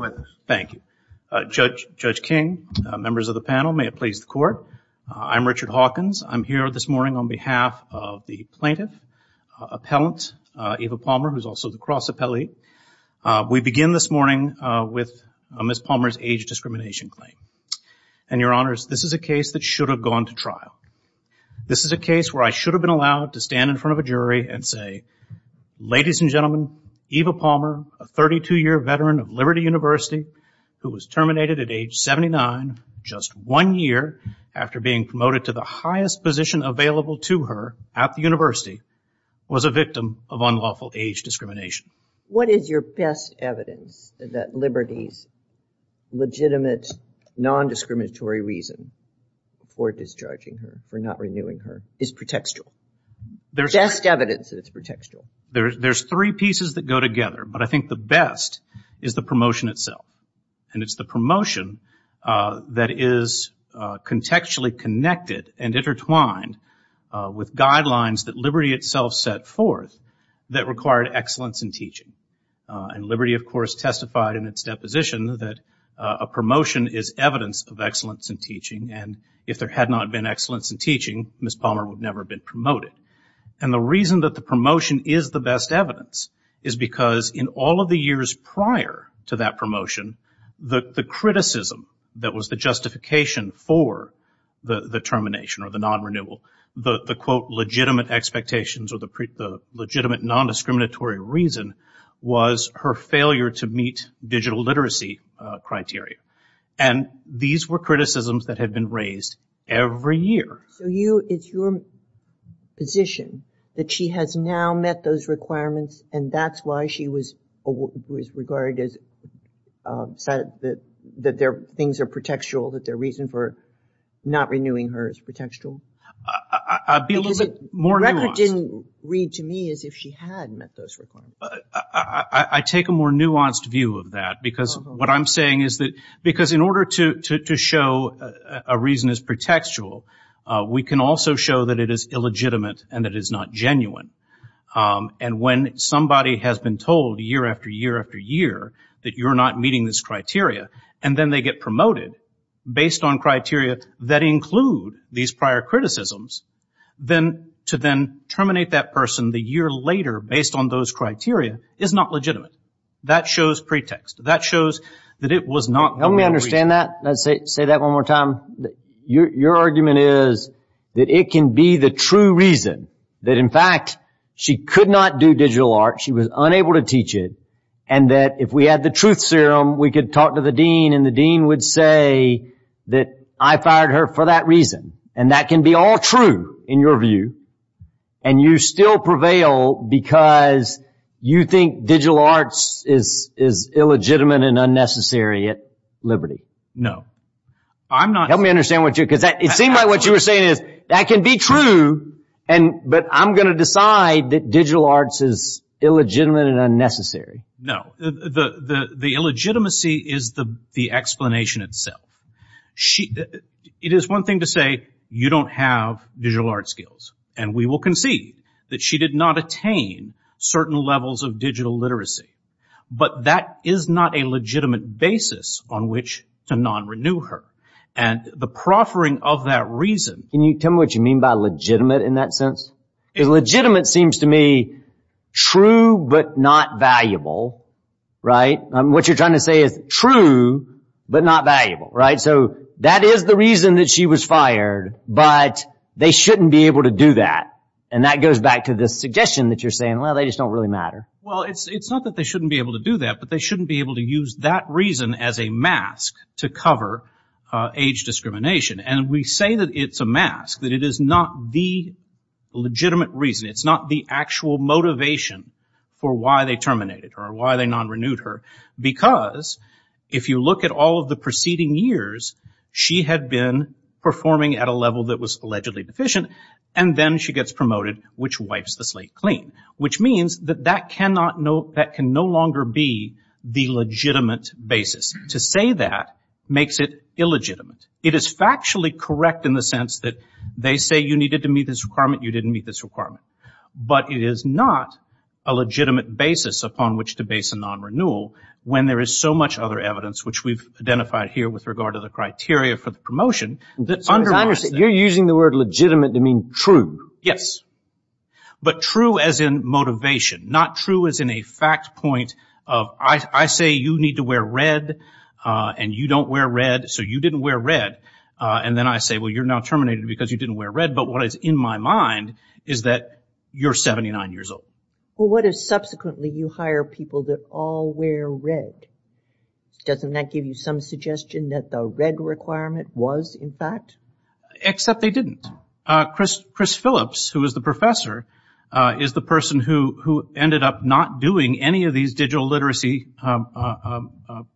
with us. Thank you. Judge King, members of the panel, may it please the court. I'm Richard Hawkins. I'm here this morning on behalf of the plaintiff, appellant Eva Palmer, who's also the cross appellee. We begin this morning with Ms. Palmer's age discrimination claim. And your honors, this is a case that should have gone to trial. This is a case where I should have been allowed to stand in front of a jury and say, ladies and gentlemen, Eva Palmer, a 32-year veteran of Liberty University who was terminated at age 79 just one year after being promoted to the highest position available to her at the university, was a victim of unlawful age discrimination. What is your best evidence that Liberty's legitimate, non-discriminatory reason for discharging her, for not renewing her, is pretextual? Best evidence that it's pretextual. There's three pieces that go together, but I think the best is the promotion itself. And it's the promotion that is contextually connected and intertwined with guidelines that Liberty itself set forth that required excellence in teaching. And Liberty, of course, testified in its deposition that a promotion is evidence of excellence in teaching. And if there had not been excellence in teaching, Ms. Palmer would never have been promoted. And the reason that the promotion is the best evidence is because in all of the years prior to that promotion, the criticism that was the justification for the termination or the non-renewal, the, quote, legitimate expectations or the legitimate, non-discriminatory reason was her failure to meet digital literacy criteria. And these were criticisms that had been raised every year. So you, it's your position that she has now met those requirements and that's why she was regarded as, said that their things are pretextual, that their reason for not renewing her is pretextual? I'll be a little bit more nuanced. The record didn't read to me as if she had met those requirements. I take a more nuanced view of that because what I'm saying is that, because in order to show a reason is pretextual, we can also show that it is illegitimate and that it is not genuine. And when somebody has been told year after year after year that you're not meeting this criteria and then they get promoted based on criteria that include these prior criticisms, then to then terminate that person the year later based on those criteria is not legitimate. That shows pretext. That shows that it was not the reason. Help me understand that. Say that one more time. Your argument is that it can be the true reason that in fact she could not do digital arts, she was unable to teach it, and that if we had the truth serum, we could talk to the dean and the dean would say that I fired her for that reason. And that can be all true in your view. And you still prevail because you think digital arts is illegitimate and unnecessary at Liberty. No. I'm not. Help me understand what you're saying. It seemed like what you were saying is that can be true, but I'm going to decide that digital arts is illegitimate and unnecessary. No. The illegitimacy is the explanation itself. It is one thing to say you don't have digital arts skills, and we will concede that she did not attain certain levels of digital literacy. But that is not a legitimate basis on which to non-renew her. And the proffering of that reason Can you tell me what you mean by legitimate in that sense? Legitimate seems to me true, but not valuable, right? What you're trying to say is true, but not valuable, right? So that is the reason that she was fired, but they shouldn't be able to do that. And that goes back to the suggestion that you're saying, well, they just don't really matter. Well, it's not that they shouldn't be able to do that, but they shouldn't be able to use that reason as a mask to cover age discrimination. And we say that it's a mask, that it is not the legitimate reason. It's not the actual motivation for why they terminated her or why they non-renewed her. Because if you look at all of the preceding years, she had been performing at a level that was allegedly deficient, and then she gets promoted, which wipes the slate clean. Which means that that can no longer be the legitimate basis. To say that makes it illegitimate. It is factually correct in the sense that they say you needed to meet this requirement, you didn't meet this requirement. But it is not a legitimate basis upon which to base a non-renewal when there is so much other evidence, which we've identified here with regard to the criteria for the promotion, that underlies that. So as I understand, you're using the word legitimate to mean true. Yes. But true as in motivation. Not true as in a fact point of I say you need to wear red and you don't wear red, so you didn't wear red. And then I say, well, you're now blind, is that you're 79 years old. Well, what if subsequently you hire people that all wear red? Doesn't that give you some suggestion that the red requirement was in fact? Except they didn't. Chris Phillips, who is the professor, is the person who ended up not doing any of these digital literacy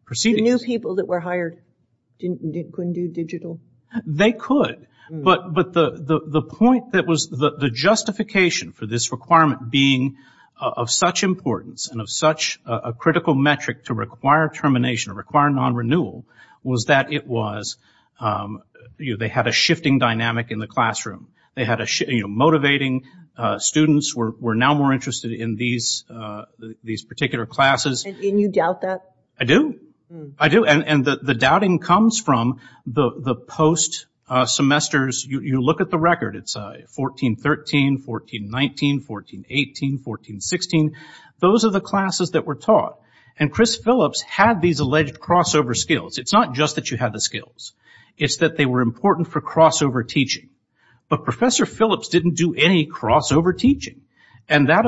proceedings. The new people that were hired couldn't do digital? They could. But the point that was, the justification for this requirement being of such importance and of such a critical metric to require termination, to require non-renewal, was that it was, you know, they had a shifting dynamic in the classroom. They had a, you know, motivating students were now more interested in these particular classes. And you doubt that? I do. I do. And the doubting comes from the post-semesters. You look at the record. It's 1413, 1419, 1418, 1416. Those are the classes that were taught. And Chris Phillips had these alleged crossover skills. It's not just that you had the skills. It's that they were important for crossover teaching. But Professor Phillips didn't do any crossover teaching. And that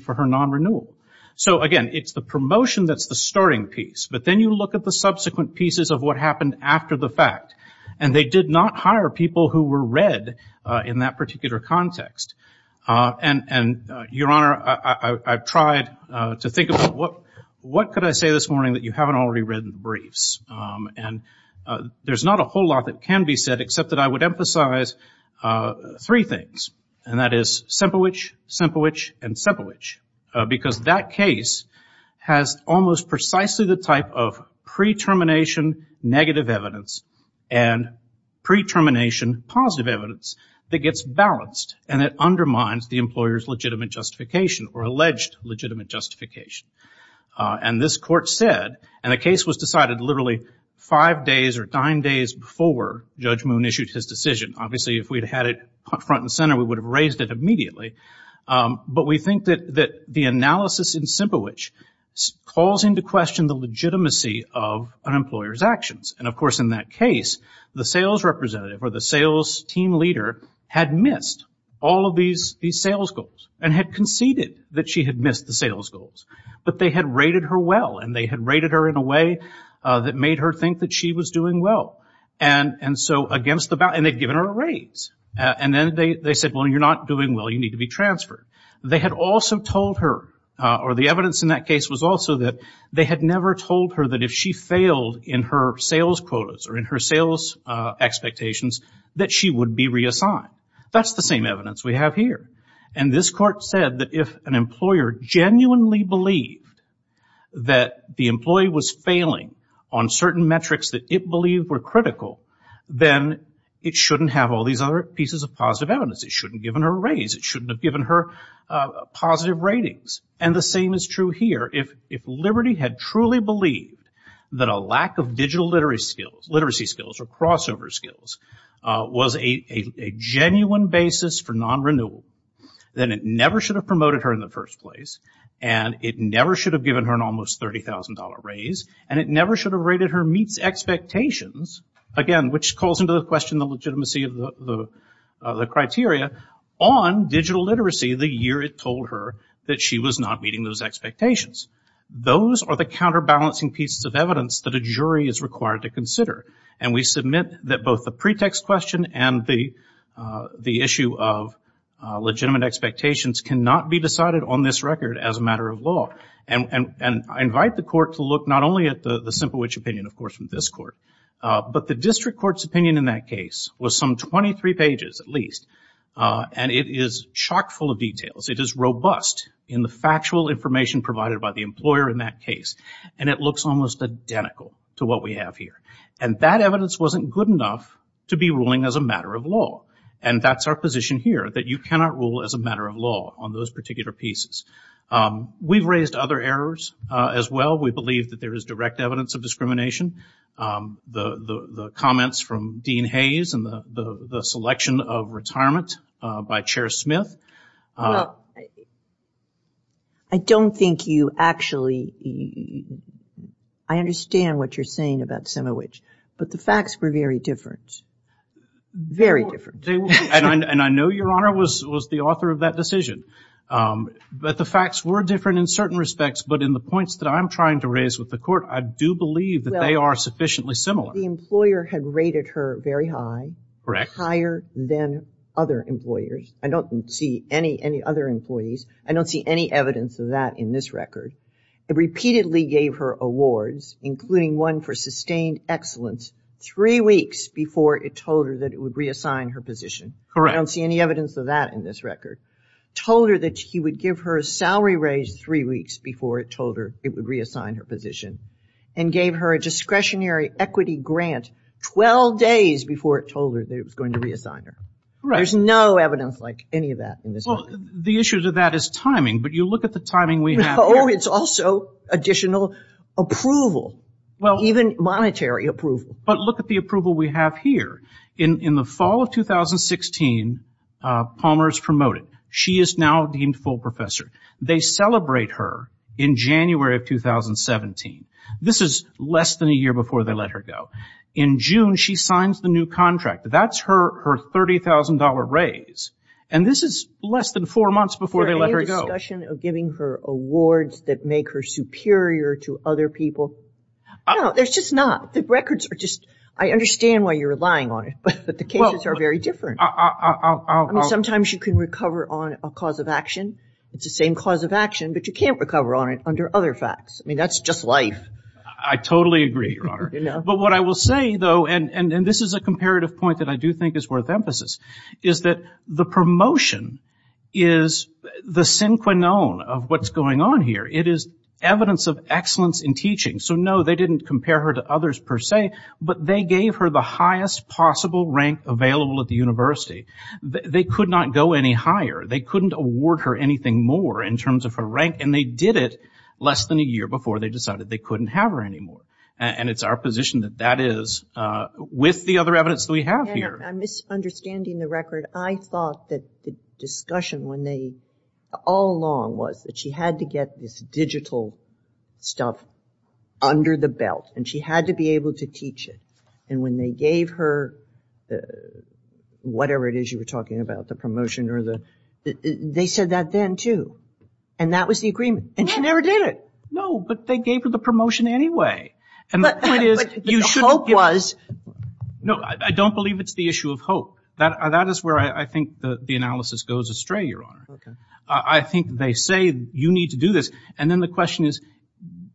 for her non-renewal. So again, it's the promotion that's the starting piece. But then you look at the subsequent pieces of what happened after the fact. And they did not hire people who were read in that particular context. And Your Honor, I've tried to think about what could I say this morning that you haven't already read in the briefs. And there's not a whole lot that can be said except that I would say Sempowich, Sempowich, and Sempowich. Because that case has almost precisely the type of pre-termination negative evidence and pre-termination positive evidence that gets balanced. And it undermines the employer's legitimate justification or alleged legitimate justification. And this court said, and the case was decided literally five days or nine days before Judge Moon issued his decision. Obviously if we'd had it front and center we would have raised it immediately. But we think that the analysis in Sempowich calls into question the legitimacy of an employer's actions. And of course in that case the sales representative or the sales team leader had missed all of these sales goals. And had conceded that she had missed the sales goals. But they had rated her well. And they had rated her in a way that made her think that she was doing well. And so against the balance, and then they said, well, you're not doing well. You need to be transferred. They had also told her, or the evidence in that case was also that they had never told her that if she failed in her sales quotas or in her sales expectations that she would be reassigned. That's the same evidence we have here. And this court said that if an employer genuinely believed that the employee was failing on certain metrics that it believed were critical, then it shouldn't have all these other pieces of positive evidence. It shouldn't have given her a raise. It shouldn't have given her positive ratings. And the same is true here. If Liberty had truly believed that a lack of digital literacy skills or crossover skills was a genuine basis for non-renewal, then it never should have promoted her in the first place. And it never should have given her an almost $30,000 raise. And it never should have rated her meets expectations, again, which calls into question the legitimacy of the criteria, on digital literacy the year it told her that she was not meeting those expectations. Those are the counterbalancing pieces of evidence that a jury is required to consider. And we submit that both the pretext question and the issue of legitimate expectations cannot be decided on this record as a matter of law. And I invite the court to look not only at the simple which opinion, of course, from this court, but the district court's opinion in that case was some 23 pages at least. And it is chock full of details. It is robust in the factual information provided by the employer in that case. And it looks almost identical to what we have here. And that evidence wasn't good enough to be ruling as a matter of law. And that's our position here, that you cannot rule as a matter of law on those cases. The evidence of discrimination, the comments from Dean Hayes and the selection of retirement by Chair Smith. Well, I don't think you actually, I understand what you're saying about Semowich. But the facts were very different. Very different. And I know Your Honor was the author of that decision. But the facts were different in the court. I do believe that they are sufficiently similar. The employer had rated her very high. Correct. Higher than other employers. I don't see any other employees. I don't see any evidence of that in this record. It repeatedly gave her awards, including one for sustained excellence three weeks before it told her that it would reassign her position. Correct. I don't see any evidence of that in this record. Told her that he would give her a salary raise three weeks before it told her it would reassign her position. And gave her a discretionary equity grant 12 days before it told her that it was going to reassign her. Correct. There's no evidence like any of that in this record. The issue to that is timing. But you look at the timing we have here. No, it's also additional approval. Even monetary approval. But look at the approval we have here. In the fall of 2016, Palmer is promoted. She is now deemed full professor. They celebrate her in January of 2017. This is less than a year before they let her go. In June, she signs the new contract. That's her $30,000 raise. And this is less than four months before they let her go. Is there any discussion of giving her awards that make her superior to other people? No, there's just not. The records are just, I understand why you're relying on it. But the cases are very different. I'll Sometimes you can recover on a cause of action. It's the same cause of action, but you can't recover on it under other facts. I mean, that's just life. I totally agree, Your Honor. But what I will say, though, and this is a comparative point that I do think is worth emphasis, is that the promotion is the synchrone of what's going on here. It is evidence of excellence in teaching. So, no, they didn't compare her to others per se, but they gave her the highest possible rank available at the university. They could not go any higher. They couldn't award her anything more in terms of her rank, and they did it less than a year before they decided they couldn't have her anymore. And it's our position that that is with the other evidence that we have here. Your Honor, I'm misunderstanding the record. I thought that the discussion all along was that she had to get this digital stuff under the belt, and she had to be able to teach it. And when they gave her whatever it is you were talking about, the promotion or the – they said that then, too. And that was the agreement. And she never did it. No, but they gave her the promotion anyway. And the point is, you shouldn't give But the hope was No, I don't believe it's the issue of hope. That is where I think the analysis goes astray, Your Honor. I think they say you need to do this. And then the question is,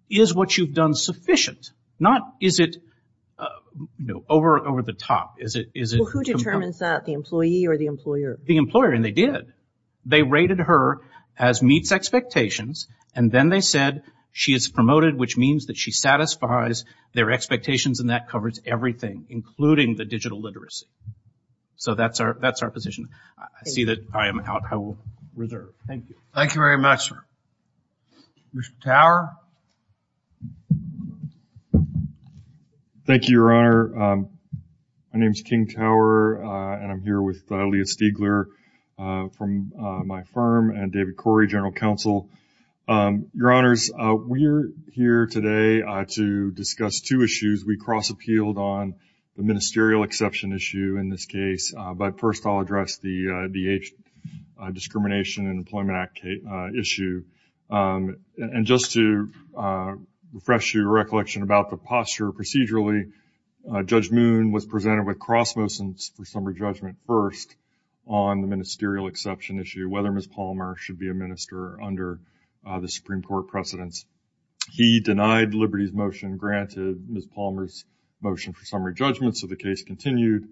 is what you've done sufficient? Not is it, you know, over the top. Is it Well, who determines that, the employee or the employer? The employer, and they did. They rated her as meets expectations, and then they said she is promoted, which means that she satisfies their expectations, and that covers everything, including the digital literacy. So that's our position. I see that I am out. I will reserve. Thank you. Thank you very much, sir. Mr. Tower? Thank you, Your Honor. My name is King Tower, and I'm here with Leah Stiegler from my firm and David Corey, General Counsel. Your Honors, we are here today to discuss two issues. We will address the discrimination in the Employment Act issue. And just to refresh your recollection about the posture procedurally, Judge Moon was presented with cross motions for summary judgment first on the ministerial exception issue, whether Ms. Palmer should be a minister under the Supreme Court precedence. He denied Liberty's motion, granted Ms. Palmer's motion for summary judgment, so the case continued,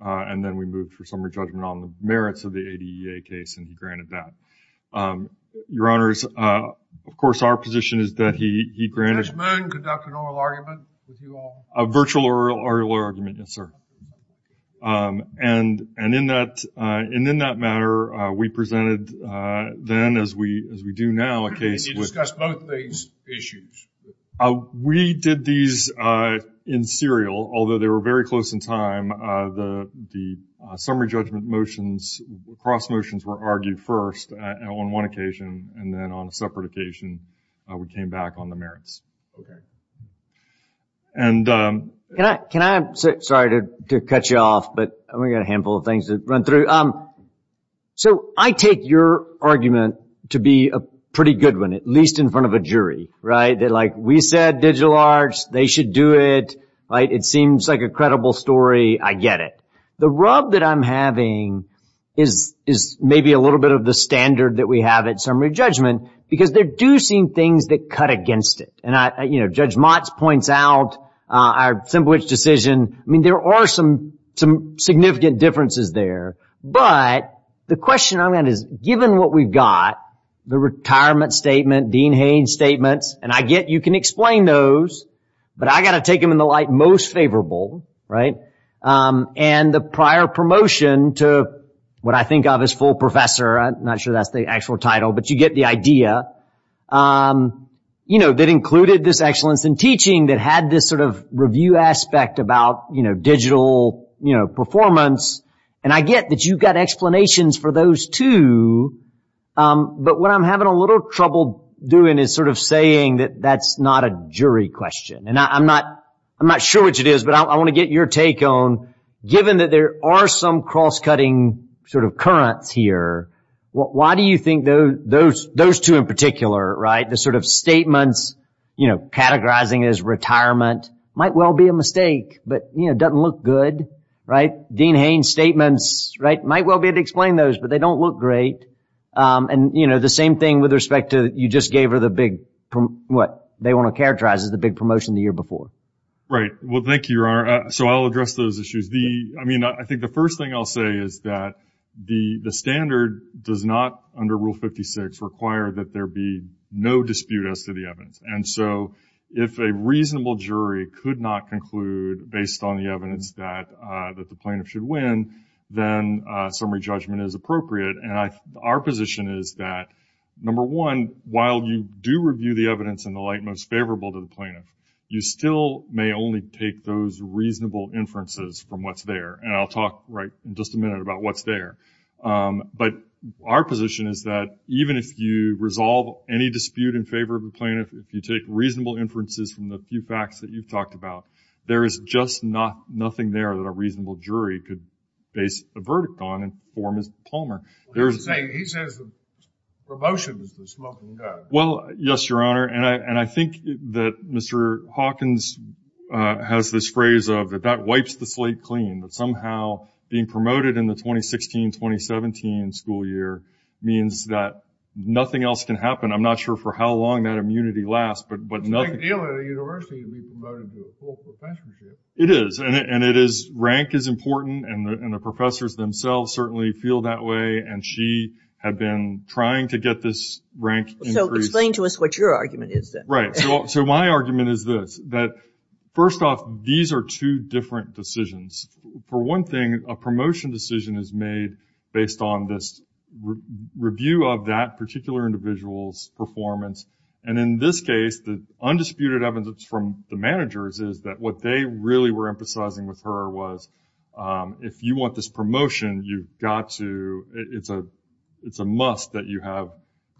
and then we moved for summary judgment on the merits of the ADEA case, and he granted that. Your Honors, of course, our position is that he granted Judge Moon conducted an oral argument with you all? A virtual oral argument, yes, sir. And in that matter, we presented then, as we do now, a case with And you discussed both these issues? We did these in serial, although they were very close in time. The summary judgment motions, cross motions were argued first on one occasion, and then on a separate occasion, we came back on the merits. Okay. And Can I, sorry to cut you off, but we've got a handful of things to run through. So I take your argument to be a pretty good one, at least in front of a jury, right? Like we said, digital arts, they should do it. It seems like a credible story. I get it. The rub that I'm having is maybe a little bit of the standard that we have at summary judgment, because there do seem things that cut against it, and Judge Motz points out our simple-witch decision. I mean, there are some significant differences there, but the question I'm at given what we've got, the retirement statement, Dean Haynes statements, and I get you can explain those, but I've got to take them in the light most favorable, right? And the prior promotion to what I think of as full professor, I'm not sure that's the actual title, but you get the idea, that included this excellence in teaching that had this sort of review aspect about digital performance, and I get that you've got explanations for those too, but what I'm having a little trouble doing is sort of saying that that's not a jury question, and I'm not sure which it is, but I want to get your take on, given that there are some cross-cutting sort of currents here, why do you think those two in particular, the sort of doesn't look good, right? Dean Haynes statements, right? Might well be able to explain those, but they don't look great, and the same thing with respect to you just gave her the big, what they want to characterize as the big promotion the year before. Right. Well, thank you, Your Honor. So, I'll address those issues. I mean, I think the first thing I'll say is that the standard does not, under Rule 56, require that there be no dispute as to the evidence, and so if a reasonable jury could not conclude, based on the evidence that the plaintiff should win, then summary judgment is appropriate, and our position is that, number one, while you do review the evidence in the light most favorable to the plaintiff, you still may only take those reasonable inferences from what's there, and I'll talk right in just a minute about what's there, but our position is that even if you resolve any dispute in favor of the plaintiff, if you take reasonable inferences from the few facts that you've talked about, there is just not nothing there that a reasonable jury could base a verdict on and form a plumber. He says the promotion is the smoking gun. Well, yes, Your Honor, and I think that Mr. Hawkins has this phrase of that that wipes the slate clean, that somehow being promoted in the 2016-2017 school year means that nothing else can happen. I'm not sure for how long that immunity lasts, but nothing... It's a big deal at a university to be promoted to a full professorship. It is, and it is, rank is important, and the professors themselves certainly feel that way, and she had been trying to get this rank increase... So explain to us what your argument is then. Right, so my argument is this, that first off, these are two different decisions. For one thing, a promotion decision is made based on this review of that particular individual's performance, and in this case, the undisputed evidence from the managers is that what they really were emphasizing with her was if you want this promotion, you've got to... It's a must that you have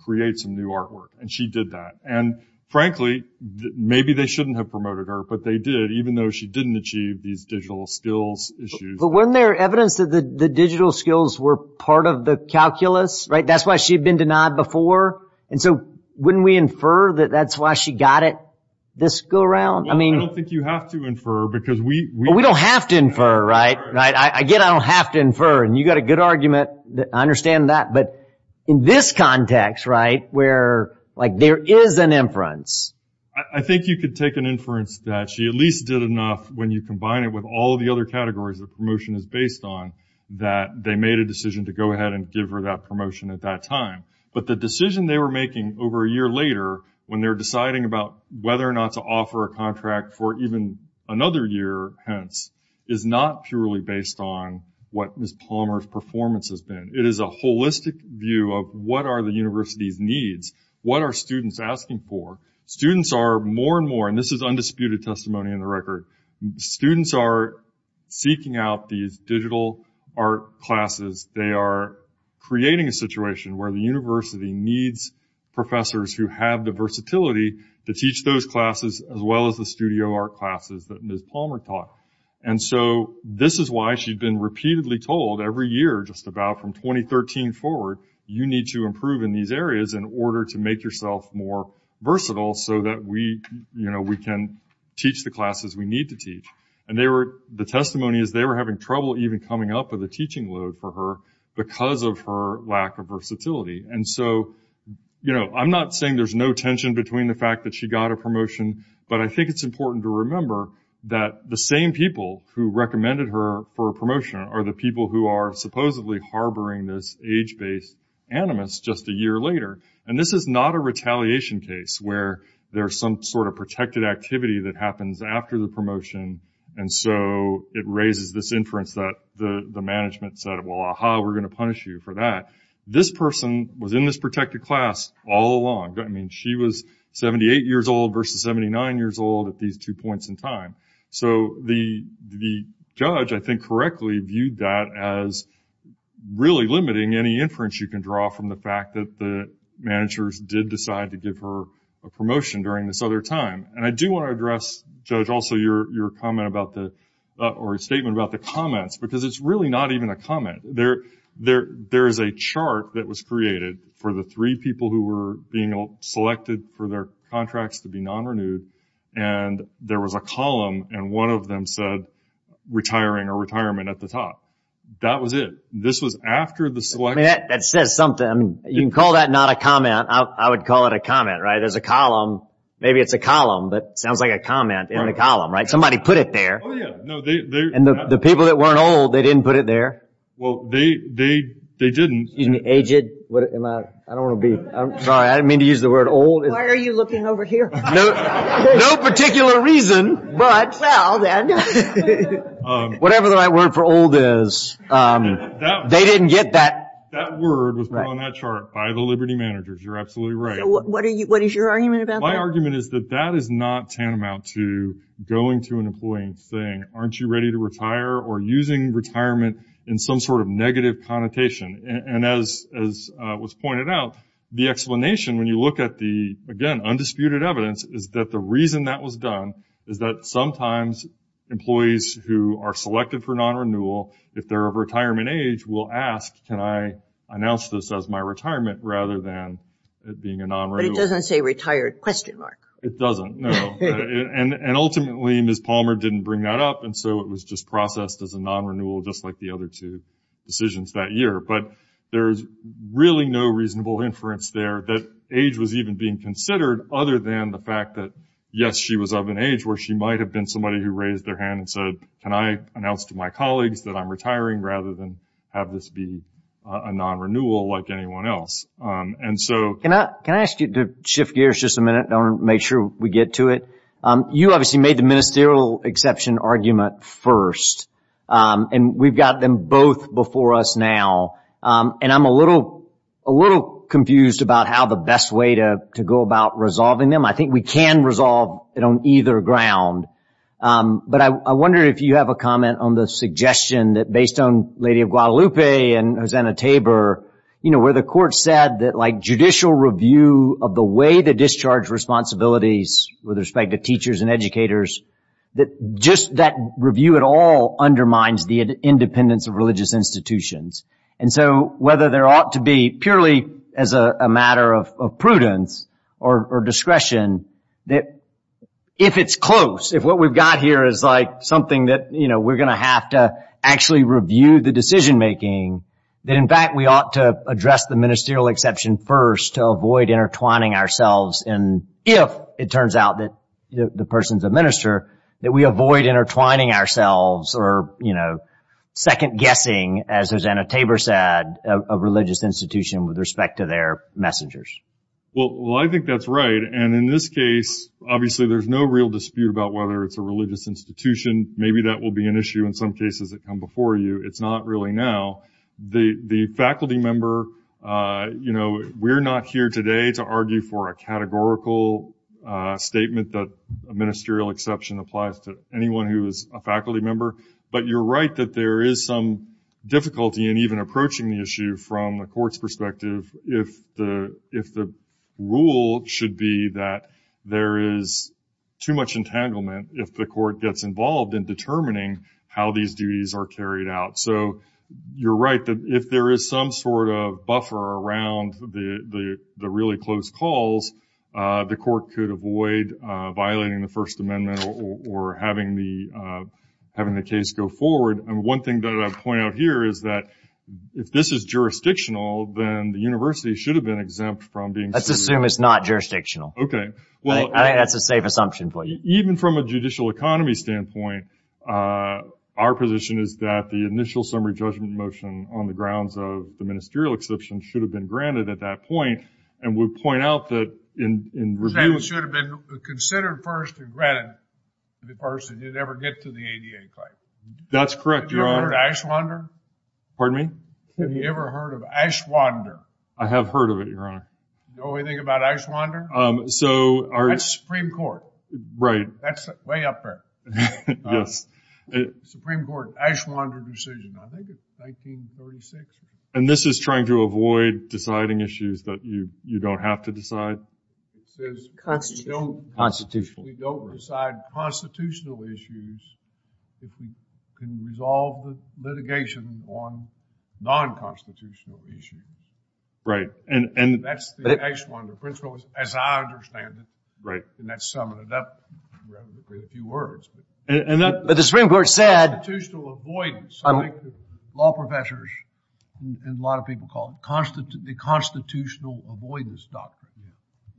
create some new artwork, and she did that, and frankly, maybe they shouldn't have promoted her, but they did, even though she didn't achieve these digital skills issues. But wasn't there evidence that the digital skills were part of the calculus, right? That's why she'd been denied before, and so wouldn't we infer that that's why she got it this go-around? Well, I don't think you have to infer, because we... Well, we don't have to infer, right? Again, I don't have to infer, and you've got a good argument. I understand that, but in this context, right, where there is an inference... I think you could take an inference that she at least did enough when you combine it with all the other categories that promotion is based on that they made a decision to go ahead and give her that promotion at that time, but the decision they were making over a year later when they're deciding about whether or not to offer a contract for even another year, hence, is not purely based on what Ms. Palmer's performance has been. It is a holistic view of what are the university's needs, what are students asking for. Students are more and more, and this is undisputed testimony on the record, students are seeking out these digital art classes. They are creating a situation where the university needs professors who have the versatility to teach those classes as well as the studio art classes that Ms. Palmer taught. And so this is why she'd been repeatedly told every year just about from 2013 forward, you need to improve in these areas in order to make yourself more versatile so that we can teach the classes we need to teach. And the testimony is they were having trouble even coming up with a teaching load for her because of her lack of versatility. And so I'm not saying there's no tension between the fact that she got a promotion, but I think it's important to remember that the same people who recommended her for a promotion are the people who are supposedly harboring this age-based animus just a year later. And this is not a retaliation case where there's some sort of protected activity that happens after the promotion and so it raises this inference that the management said, well, aha, we're going to punish you for that. This person was in this protected class all along. I mean, she was 78 years old versus 79 years old at these two points in time. So the judge, I think, correctly viewed that as really limiting any inference you can draw from the fact that the managers did decide to give her a promotion during this other time. And I do want to address, Judge, also your comment about the or statement about the comments because it's really not even a comment. There is a chart that was created for the three people who were being selected for their contracts to be non-renewed and there was a column and one of them said retiring or retirement at the top. That was it. This was after the selection. That says something. You can call that not a comment. I would call it a comment, right? There's a column. Maybe it's a column, but it sounds like a comment in a column, right? Somebody put it there. Oh, yeah. No, they... And the people that weren't old, they didn't put it there. Well, they didn't. Excuse me, aged? I don't want to be... Sorry, I didn't mean to use the word old. Why are you looking over here? No particular reason, but... Well, then. Whatever the right word for old is, they didn't get that. That word was put on that chart by the Liberty managers. You're absolutely right. So what is your argument about that? My argument is that that is not tantamount to going to an employee and saying, aren't you ready to And as was pointed out, the explanation, when you look at the, again, undisputed evidence, is that the reason that was done is that sometimes employees who are selected for non-renewal, if they're of retirement age, will ask, can I announce this as my retirement rather than it being a non-renewal? But it doesn't say retired, question mark. It doesn't, no. And ultimately, Ms. Palmer didn't bring that up, and so it was just really no reasonable inference there that age was even being considered other than the fact that, yes, she was of an age where she might have been somebody who raised their hand and said, can I announce to my colleagues that I'm retiring rather than have this be a non-renewal like anyone else? Can I ask you to shift gears just a minute? I want to make sure we get to it. You obviously made the ministerial exception argument first, and we've got them both before us now. And I'm a little confused about how the best way to go about resolving them. I think we can resolve it on either ground. But I wonder if you have a comment on the suggestion that, based on Lady of Guadalupe and Hosanna Tabor, where the court said that judicial review of the way to discharge responsibilities with respect to teachers and educators, that just that review at all And so whether there ought to be, purely as a matter of prudence or discretion, that if it's close, if what we've got here is like something that we're going to have to actually review the decision making, that in fact we ought to address the ministerial exception first to avoid intertwining ourselves. And if it turns out that the person's a minister, that we avoid intertwining ourselves or second-guessing, as Hosanna Tabor said, a religious institution with respect to their messengers. Well, I think that's right. And in this case, obviously, there's no real dispute about whether it's a religious institution. Maybe that will be an issue in some cases that come before you. It's not really now. The faculty member, we're not here today to argue for a categorical statement that a ministerial exception applies to anyone who is a faculty member. But you're right that there is some difficulty in even approaching the issue from the court's perspective if the rule should be that there is too much entanglement if the court gets involved in determining how these duties are carried out. So you're right that if there is some sort of violating the First Amendment or having the case go forward. And one thing that I'd point out here is that if this is jurisdictional, then the university should have been exempt from being sued. Let's assume it's not jurisdictional. Okay. I think that's a safe assumption for you. Even from a judicial economy standpoint, our position is that the initial summary judgment motion on the grounds of the ministerial exception should have been granted at that point. And we point out that in review... It should have been considered first and granted to the person who'd ever get to the ADA claim. That's correct, Your Honor. Have you ever heard of Ashwander? Pardon me? Have you ever heard of Ashwander? I have heard of it, Your Honor. Know anything about Ashwander? That's Supreme Court. Right. That's way up there. Yes. Supreme Court Ashwander decision, I think it's 1936. And this is trying to avoid deciding issues that you don't have to decide? It says we don't decide constitutional issues if we can resolve the litigation on non-constitutional issues. Right. That's the Ashwander principle as I understand it. Right. And that's summing it up in a few words. But the Supreme Court said... And a lot of people call it the constitutional avoidance doctrine.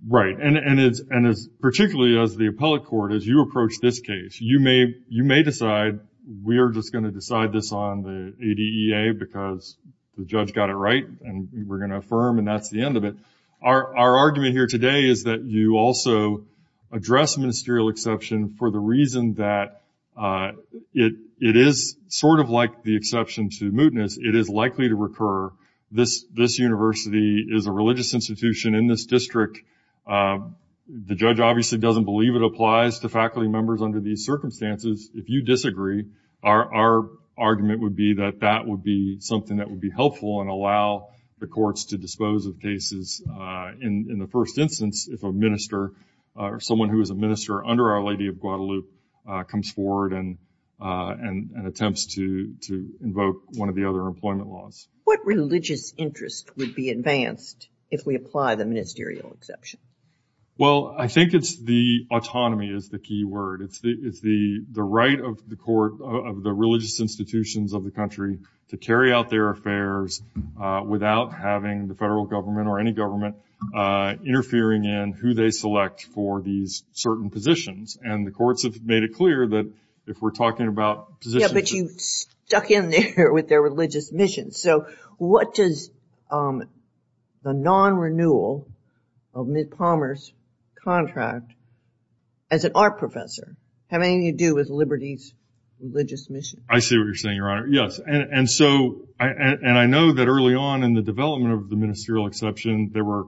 Right. And particularly as the appellate court, as you approach this case, you may decide, we are just going to decide this on the ADEA because the judge got it right and we're going to affirm and that's the end of it. Our argument here today is that you also address ministerial exception for the reason that it is sort of like the exception to mootness. It is likely to recur. This university is a religious institution in this district. The judge obviously doesn't believe it applies to faculty members under these circumstances. If you disagree, our argument would be that that would be something that would be helpful and allow the courts to dispose of cases in the first instance if a minister or someone who is a minister under Our Lady of Guadalupe comes forward and attempts to invoke one of the other employment laws. What religious interest would be advanced if we apply the ministerial exception? Well, I think it's the autonomy is the key word. It's the right of the court of the religious institutions of the country to carry out their affairs without having the federal government or any government interfering in who they select for these certain positions. And the courts have made it clear that if we're talking about positions... But you stuck in there with their religious mission. So what does the non-renewal of Ms. Palmer's contract as an art professor have anything to do with Liberty's religious mission? I see what you're saying, Your Honor. Yes, and I know that early on in the development of the ministerial exception, there were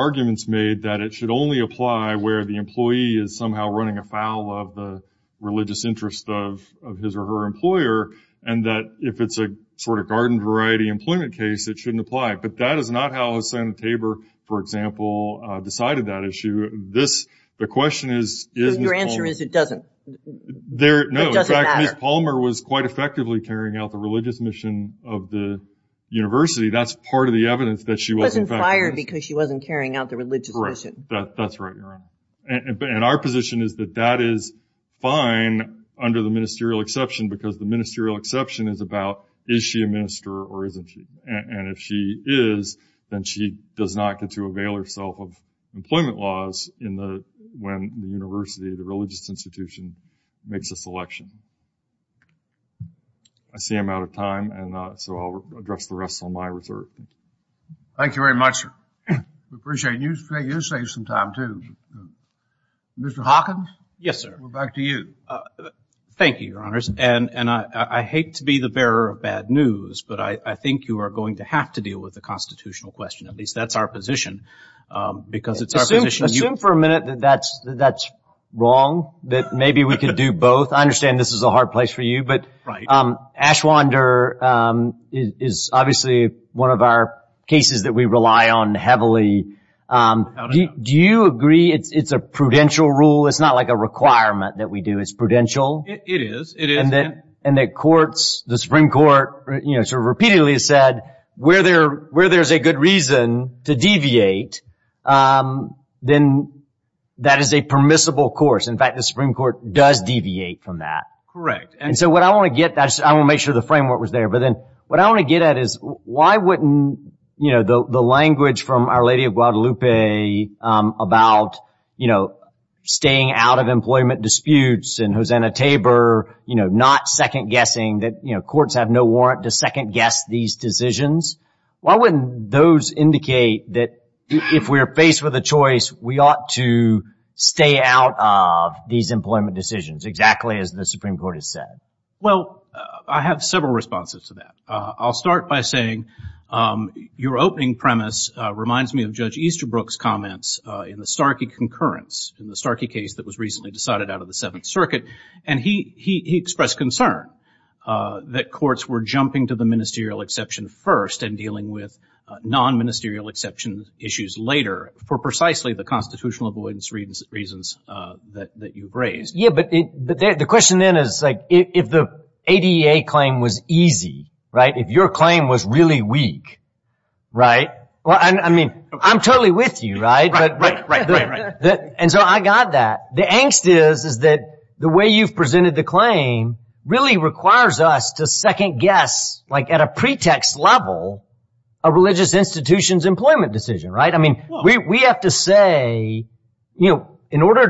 arguments made that it should only apply where the employee is somehow running afoul of the religious interest of his or her employer, and that if it's a sort of garden variety employment case, it shouldn't apply. But that is not how Senator Tabor, for example, decided that issue. The question is... Your answer is it doesn't. No, in fact, Ms. Palmer was quite effectively carrying out the religious mission of the university. That's part of the evidence that she was... Wasn't fired because she wasn't carrying out the religious mission. That's right, Your Honor. And our position is that that is fine under the ministerial exception, because the ministerial exception is about, is she a minister or isn't she? And if she is, then she does not get to avail herself of employment laws when the university, the religious institution, makes a selection. I see I'm out of time, and so I'll address the rest on my reserve. Thank you very much. We appreciate it. You saved some time, too. Mr. Hawkins? Yes, sir. We're back to you. Thank you, Your Honors. And I hate to be the bearer of bad news, but I think you are going to have to deal with the constitutional question. At least that's our position, because it's our position... Assume for a minute that that's wrong, that maybe we could do both. I understand this is a hard place for you, but Ashwander is obviously one of our cases that we rely on heavily. Do you agree it's a prudential rule? It's not like a requirement that we do. It's prudential? It is, it is. And that courts, the Supreme Court, sort of repeatedly has said, where there's a good reason to deviate, then that is a permissible course. In fact, the Supreme Court does deviate from that. Correct. And so what I want to get, I want to make sure the framework was there, but then what I want to get at is why wouldn't, you know, the language from Our Lady of Guadalupe about, you know, staying out of employment disputes and Hosanna Tabor, you know, not second-guessing that, you know, courts have no warrant to second-guess these decisions. Why wouldn't those indicate that if we are faced with a choice, we ought to stay out of these employment decisions, exactly as the Supreme Court has said? Well, I have several responses to that. I'll start by saying your opening premise reminds me of Judge Easterbrook's comments in the Starkey concurrence, in the Starkey case that was recently decided out of the Seventh Circuit. And he expressed concern that courts were jumping to the ministerial exception first and dealing with non-ministerial exception issues later for precisely the constitutional avoidance reasons that you've raised. The question then is, like, if the ADA claim was easy, right, if your claim was really weak, right, well, I mean, I'm totally with you, right? And so I got that. The angst is that the way you've presented the claim really requires us to second-guess, like, at a pretext level, a religious institution's employment decision, right? We have to say, you know, in order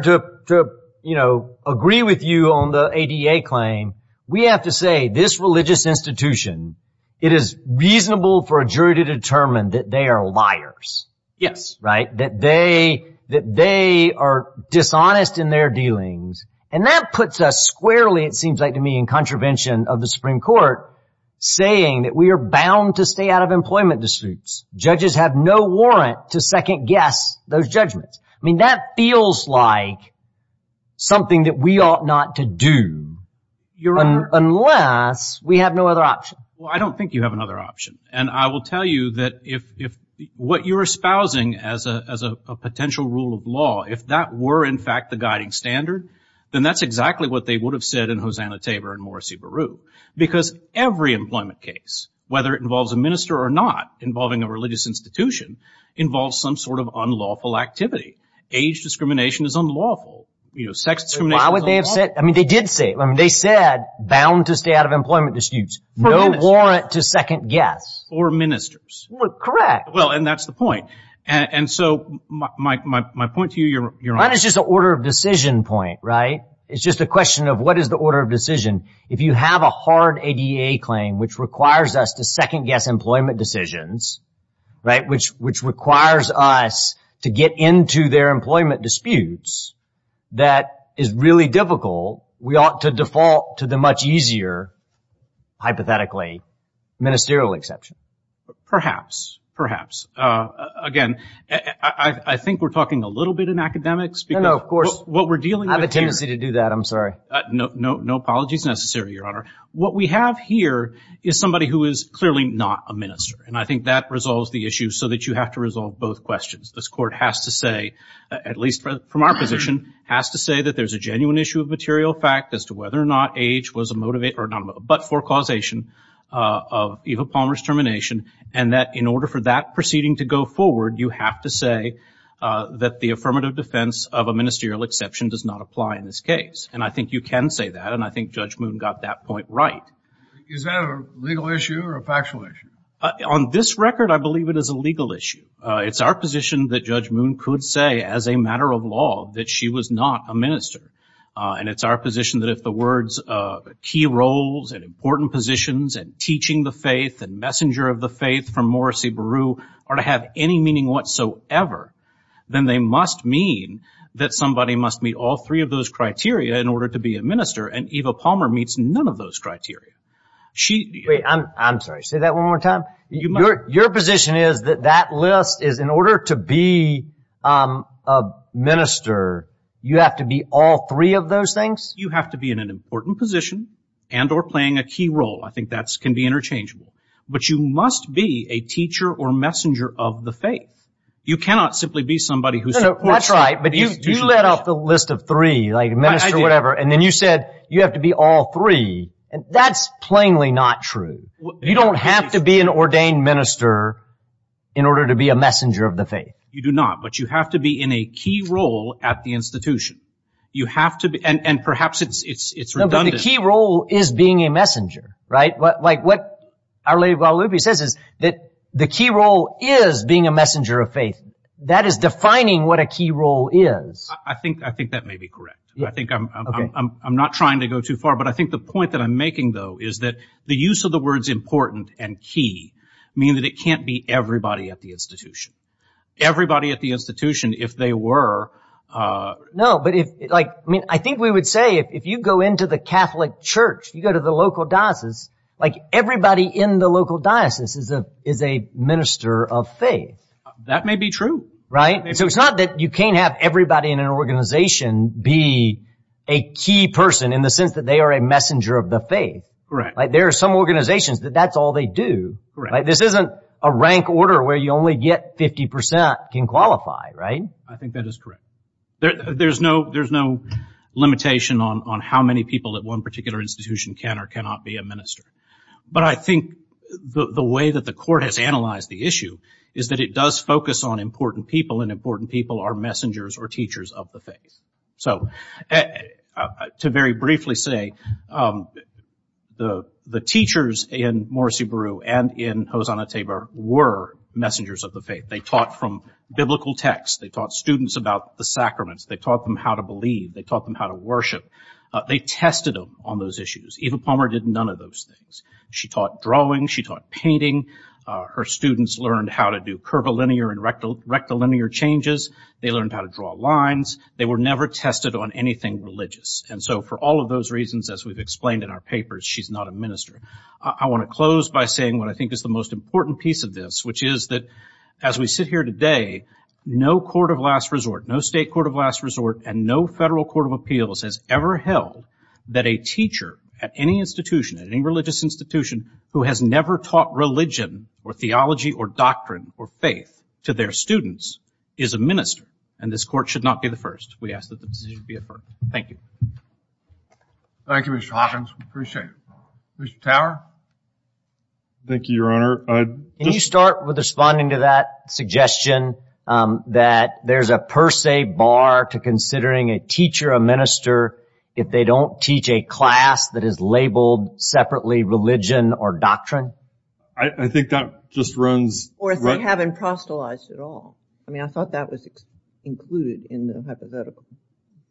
to, you know, agree with you on the ADA claim, we have to say this religious institution, it is reasonable for a jury to determine that they are liars, right, that they are dishonest in their dealings. And that puts us squarely, it seems like to me, in contravention of the Supreme Court, saying that we are bound to stay out of employment disputes. Judges have no warrant to second-guess those judgments. I mean, that feels like something that we ought not to do unless we have no other option. Well, I don't think you have another option. And I will tell you that if what you're espousing as a potential rule of law, if that were, in fact, the guiding standard, then that's exactly what they would have said in Hosanna Tabor and Morrissey Beru. Because every employment case, whether it involves a minister or not, involving a religious institution, involves some sort of unlawful activity. Age discrimination is unlawful. You know, sex discrimination is unlawful. Why would they have said, I mean, they did say, I mean, they said bound to stay out of employment disputes. No warrant to second-guess. Or ministers. Well, correct. Well, and that's the point. And so my point to you, Your Honor. It's just a question of what is the order of decision. If you have a hard ADA claim, which requires us to second-guess employment decisions, right, which requires us to get into their employment disputes, that is really difficult. We ought to default to the much easier, hypothetically, ministerial exception. Perhaps. Perhaps. Again, I think we're talking a little bit in academics. No, no, of course. What we're dealing with here. I have a tendency to do that. I'm sorry. No apologies necessary, Your Honor. What we have here is somebody who is clearly not a minister. And I think that resolves the issue so that you have to resolve both questions. This Court has to say, at least from our position, has to say that there's a genuine issue of material fact as to whether or not age was a motivator, or not a motivator, but for causation of Eva Palmer's termination. And that in order for that proceeding to go forward, you have to say that the affirmative defense of a ministerial exception does not apply in this case. And I think you can say that. And I think Judge Moon got that point right. Is that a legal issue or a factual issue? On this record, I believe it is a legal issue. It's our position that Judge Moon could say as a matter of law that she was not a minister. And it's our position that if the words of key roles and important positions and teaching the faith and messenger of the faith from Morrissey Beru are to have any meaning whatsoever, then they must mean that somebody must meet all three of those criteria in order to be a minister. And Eva Palmer meets none of those criteria. Wait, I'm sorry. Say that one more time. Your position is that that list is in order to be a minister, you have to be all three of those things? You have to be in an important position and or playing a key role. I think that can be interchangeable. But you must be a teacher or messenger of the faith. You cannot simply be somebody who's not right. But you let off the list of three, like a minister or whatever. And then you said you have to be all three. And that's plainly not true. You don't have to be an ordained minister in order to be a messenger of the faith. You do not. But you have to be in a key role at the institution. You have to be. And perhaps it's redundant. The key role is being a messenger, right? What our Lady of Guadalupe says is that the key role is being a messenger of faith. That is defining what a key role is. I think that may be correct. I think I'm not trying to go too far. But I think the point that I'm making, though, is that the use of the words important and key mean that it can't be everybody at the institution. Everybody at the institution, if they were. No, but I think we would say if you go into the Catholic church, you go to the local diocese, like everybody in the local diocese is a minister of faith. That may be true. Right? So it's not that you can't have everybody in an organization be a key person in the sense that they are a messenger of the faith. Right. There are some organizations that that's all they do, right? This isn't a rank order where you only get 50 percent can qualify, right? I think that is correct. There's no limitation on how many people at one particular institution can or cannot be a minister. But I think the way that the court has analyzed the issue is that it does focus on important people, and important people are messengers or teachers of the faith. So to very briefly say, the teachers in Morrissey-Beru and in Hosanna-Tabor were messengers of the faith. They taught from biblical texts. They taught students about the sacraments. They taught them how to believe. They taught them how to worship. They tested them on those issues. Eva Palmer did none of those things. She taught drawing. She taught painting. Her students learned how to do curvilinear and rectilinear changes. They learned how to draw lines. They were never tested on anything religious. And so for all of those reasons, as we've explained in our papers, she's not a minister. I want to close by saying what I think is the most important piece of this, which is that as we sit here today, no court of last resort, no state court of last resort, and no federal court of appeals has ever held that a teacher at any institution, at any religious institution, who has never taught religion or theology or doctrine or faith to their students is a minister. And this court should not be the first. We ask that the decision be deferred. Thank you. Thank you, Mr. Hawkins. We appreciate it. Mr. Tower? Thank you, Your Honor. Can you start with responding to that suggestion that there's a per se bar to considering a teacher a minister if they don't teach a class that is labeled separately religion or doctrine? I think that just runs— Or if they haven't proselytized at all. I mean, I thought that was included in the hypothetical.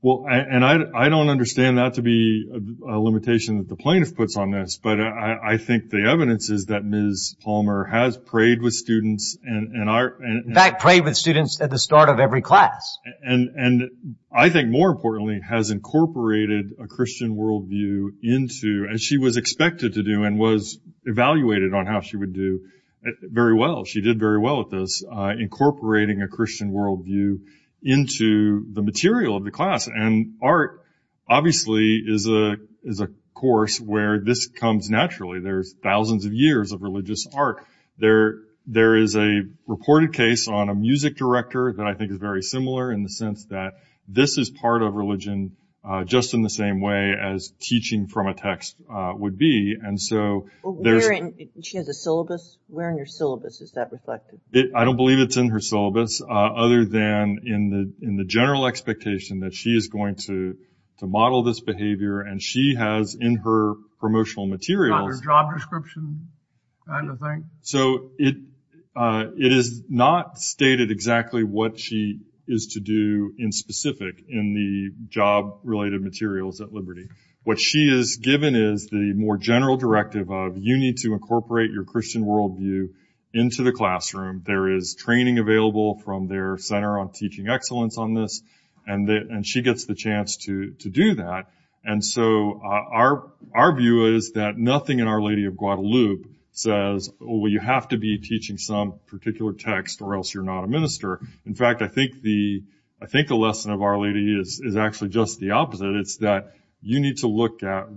Well, and I don't understand that to be a limitation that the plaintiff puts on this, but I think the evidence is that Ms. Palmer has prayed with students and— In fact, prayed with students at the start of every class. And I think, more importantly, has incorporated a Christian worldview into—as she was expected to do and was evaluated on how she would do very well. She did very well at this, incorporating a Christian worldview into the material of the class. And art, obviously, is a course where this comes naturally. There's thousands of years of religious art. There is a reported case on a music director that I think is very similar in the sense that this is part of religion just in the same way as teaching from a text would be. And so there's— She has a syllabus? Where in your syllabus is that reflected? I don't believe it's in her syllabus, other than in the general expectation that she is going to model this behavior. And she has in her promotional materials— So it is not stated exactly what she is to do in specific in the job-related materials at Liberty. What she is given is the more general directive of, you need to incorporate your Christian worldview into the classroom. There is training available from their Center on Teaching Excellence on this, and she gets the chance to do that. And so our view is that nothing in Our Lady of Guadalupe says, well, you have to be teaching some particular text or else you're not a minister. In fact, I think the lesson of Our Lady is actually just the opposite. It's that you need to look at,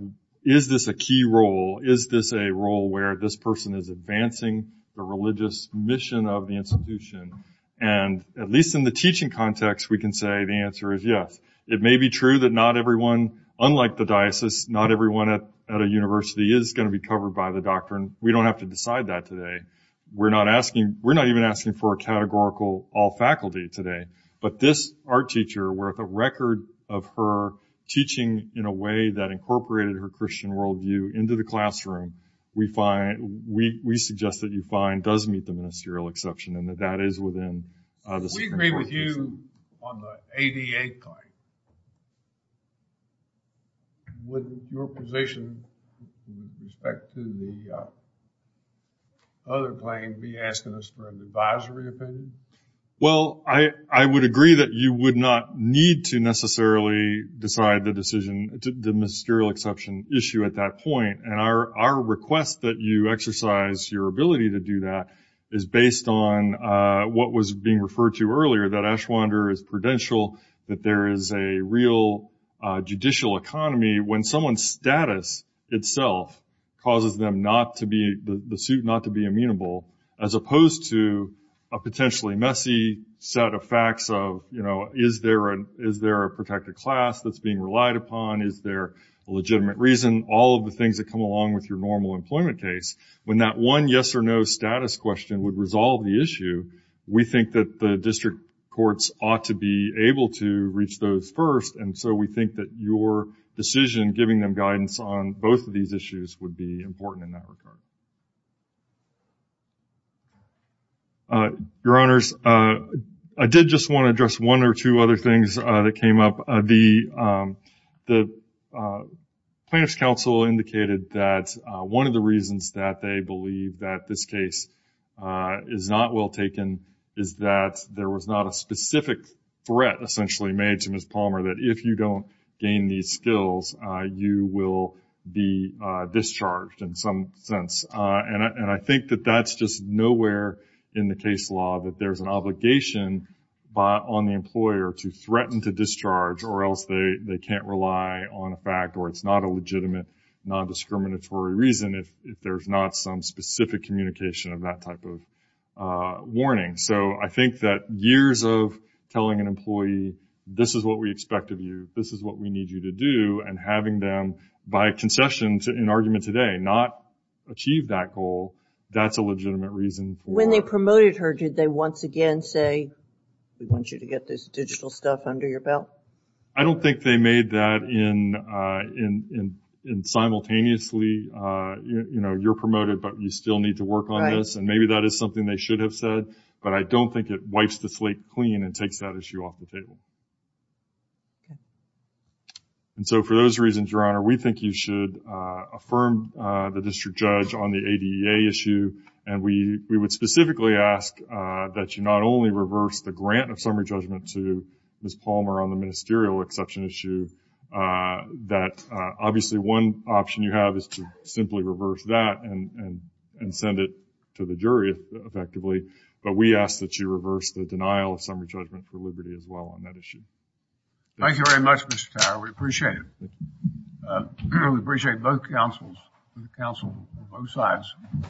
is this a key role? Is this a role where this person is advancing the religious mission of the institution? And at least in the teaching context, we can say the answer is yes. It may be true that not everyone, unlike the diocese, not everyone at a university is going to be covered by the doctrine. We don't have to decide that today. We're not even asking for a categorical all-faculty today. But this art teacher, where the record of her teaching in a way that incorporated her Christian worldview into the classroom, we suggest that you find does meet the ministerial exception, and that that is within— We agree with you on the ADA claim. Would your position with respect to the other claim be asking us for an advisory opinion? Well, I would agree that you would not need to necessarily decide the decision, the ministerial exception issue at that point. And our request that you exercise your ability to do that is based on what was being referred to earlier, that Ashwander is prudential, that there is a real judicial economy when someone's status itself causes them not to be—the suit not to be amenable, as opposed to a potentially messy set of facts of, you know, is there a protected class that's being relied upon? Is there a legitimate reason? All of the things that come along with your normal employment case. When that one yes or no status question would resolve the issue, we think that the district courts ought to be able to reach those first. And so we think that your decision giving them guidance on both of these issues would be important in that regard. Your Honors, I did just want to address one or two other things that came up. The Plaintiff's Counsel indicated that one of the reasons that they believe that this case is not well taken is that there was not a specific threat essentially made to Ms. Palmer that if you don't gain these skills, you will be discharged in some sense. And I think that that's just nowhere in the case law that there's an obligation on the or else they can't rely on a fact or it's not a legitimate, non-discriminatory reason if there's not some specific communication of that type of warning. So I think that years of telling an employee, this is what we expect of you, this is what we need you to do, and having them, by concession in argument today, not achieve that goal, that's a legitimate reason for— When they promoted her, did they once again say, we want you to get this digital stuff under your belt? I don't think they made that in simultaneously, you know, you're promoted but you still need to work on this. And maybe that is something they should have said, but I don't think it wipes the slate clean and takes that issue off the table. And so for those reasons, Your Honor, we think you should affirm the district judge on the ADEA issue and we would specifically ask that you not only reverse the grant of summary judgment to Ms. Palmer on the ministerial exception issue, that obviously one option you have is to simply reverse that and send it to the jury effectively, but we ask that you reverse the denial of summary judgment for Liberty as well on that issue. Thank you very much, Mr. Tower. We appreciate it. We appreciate both counsels, counsel on both sides.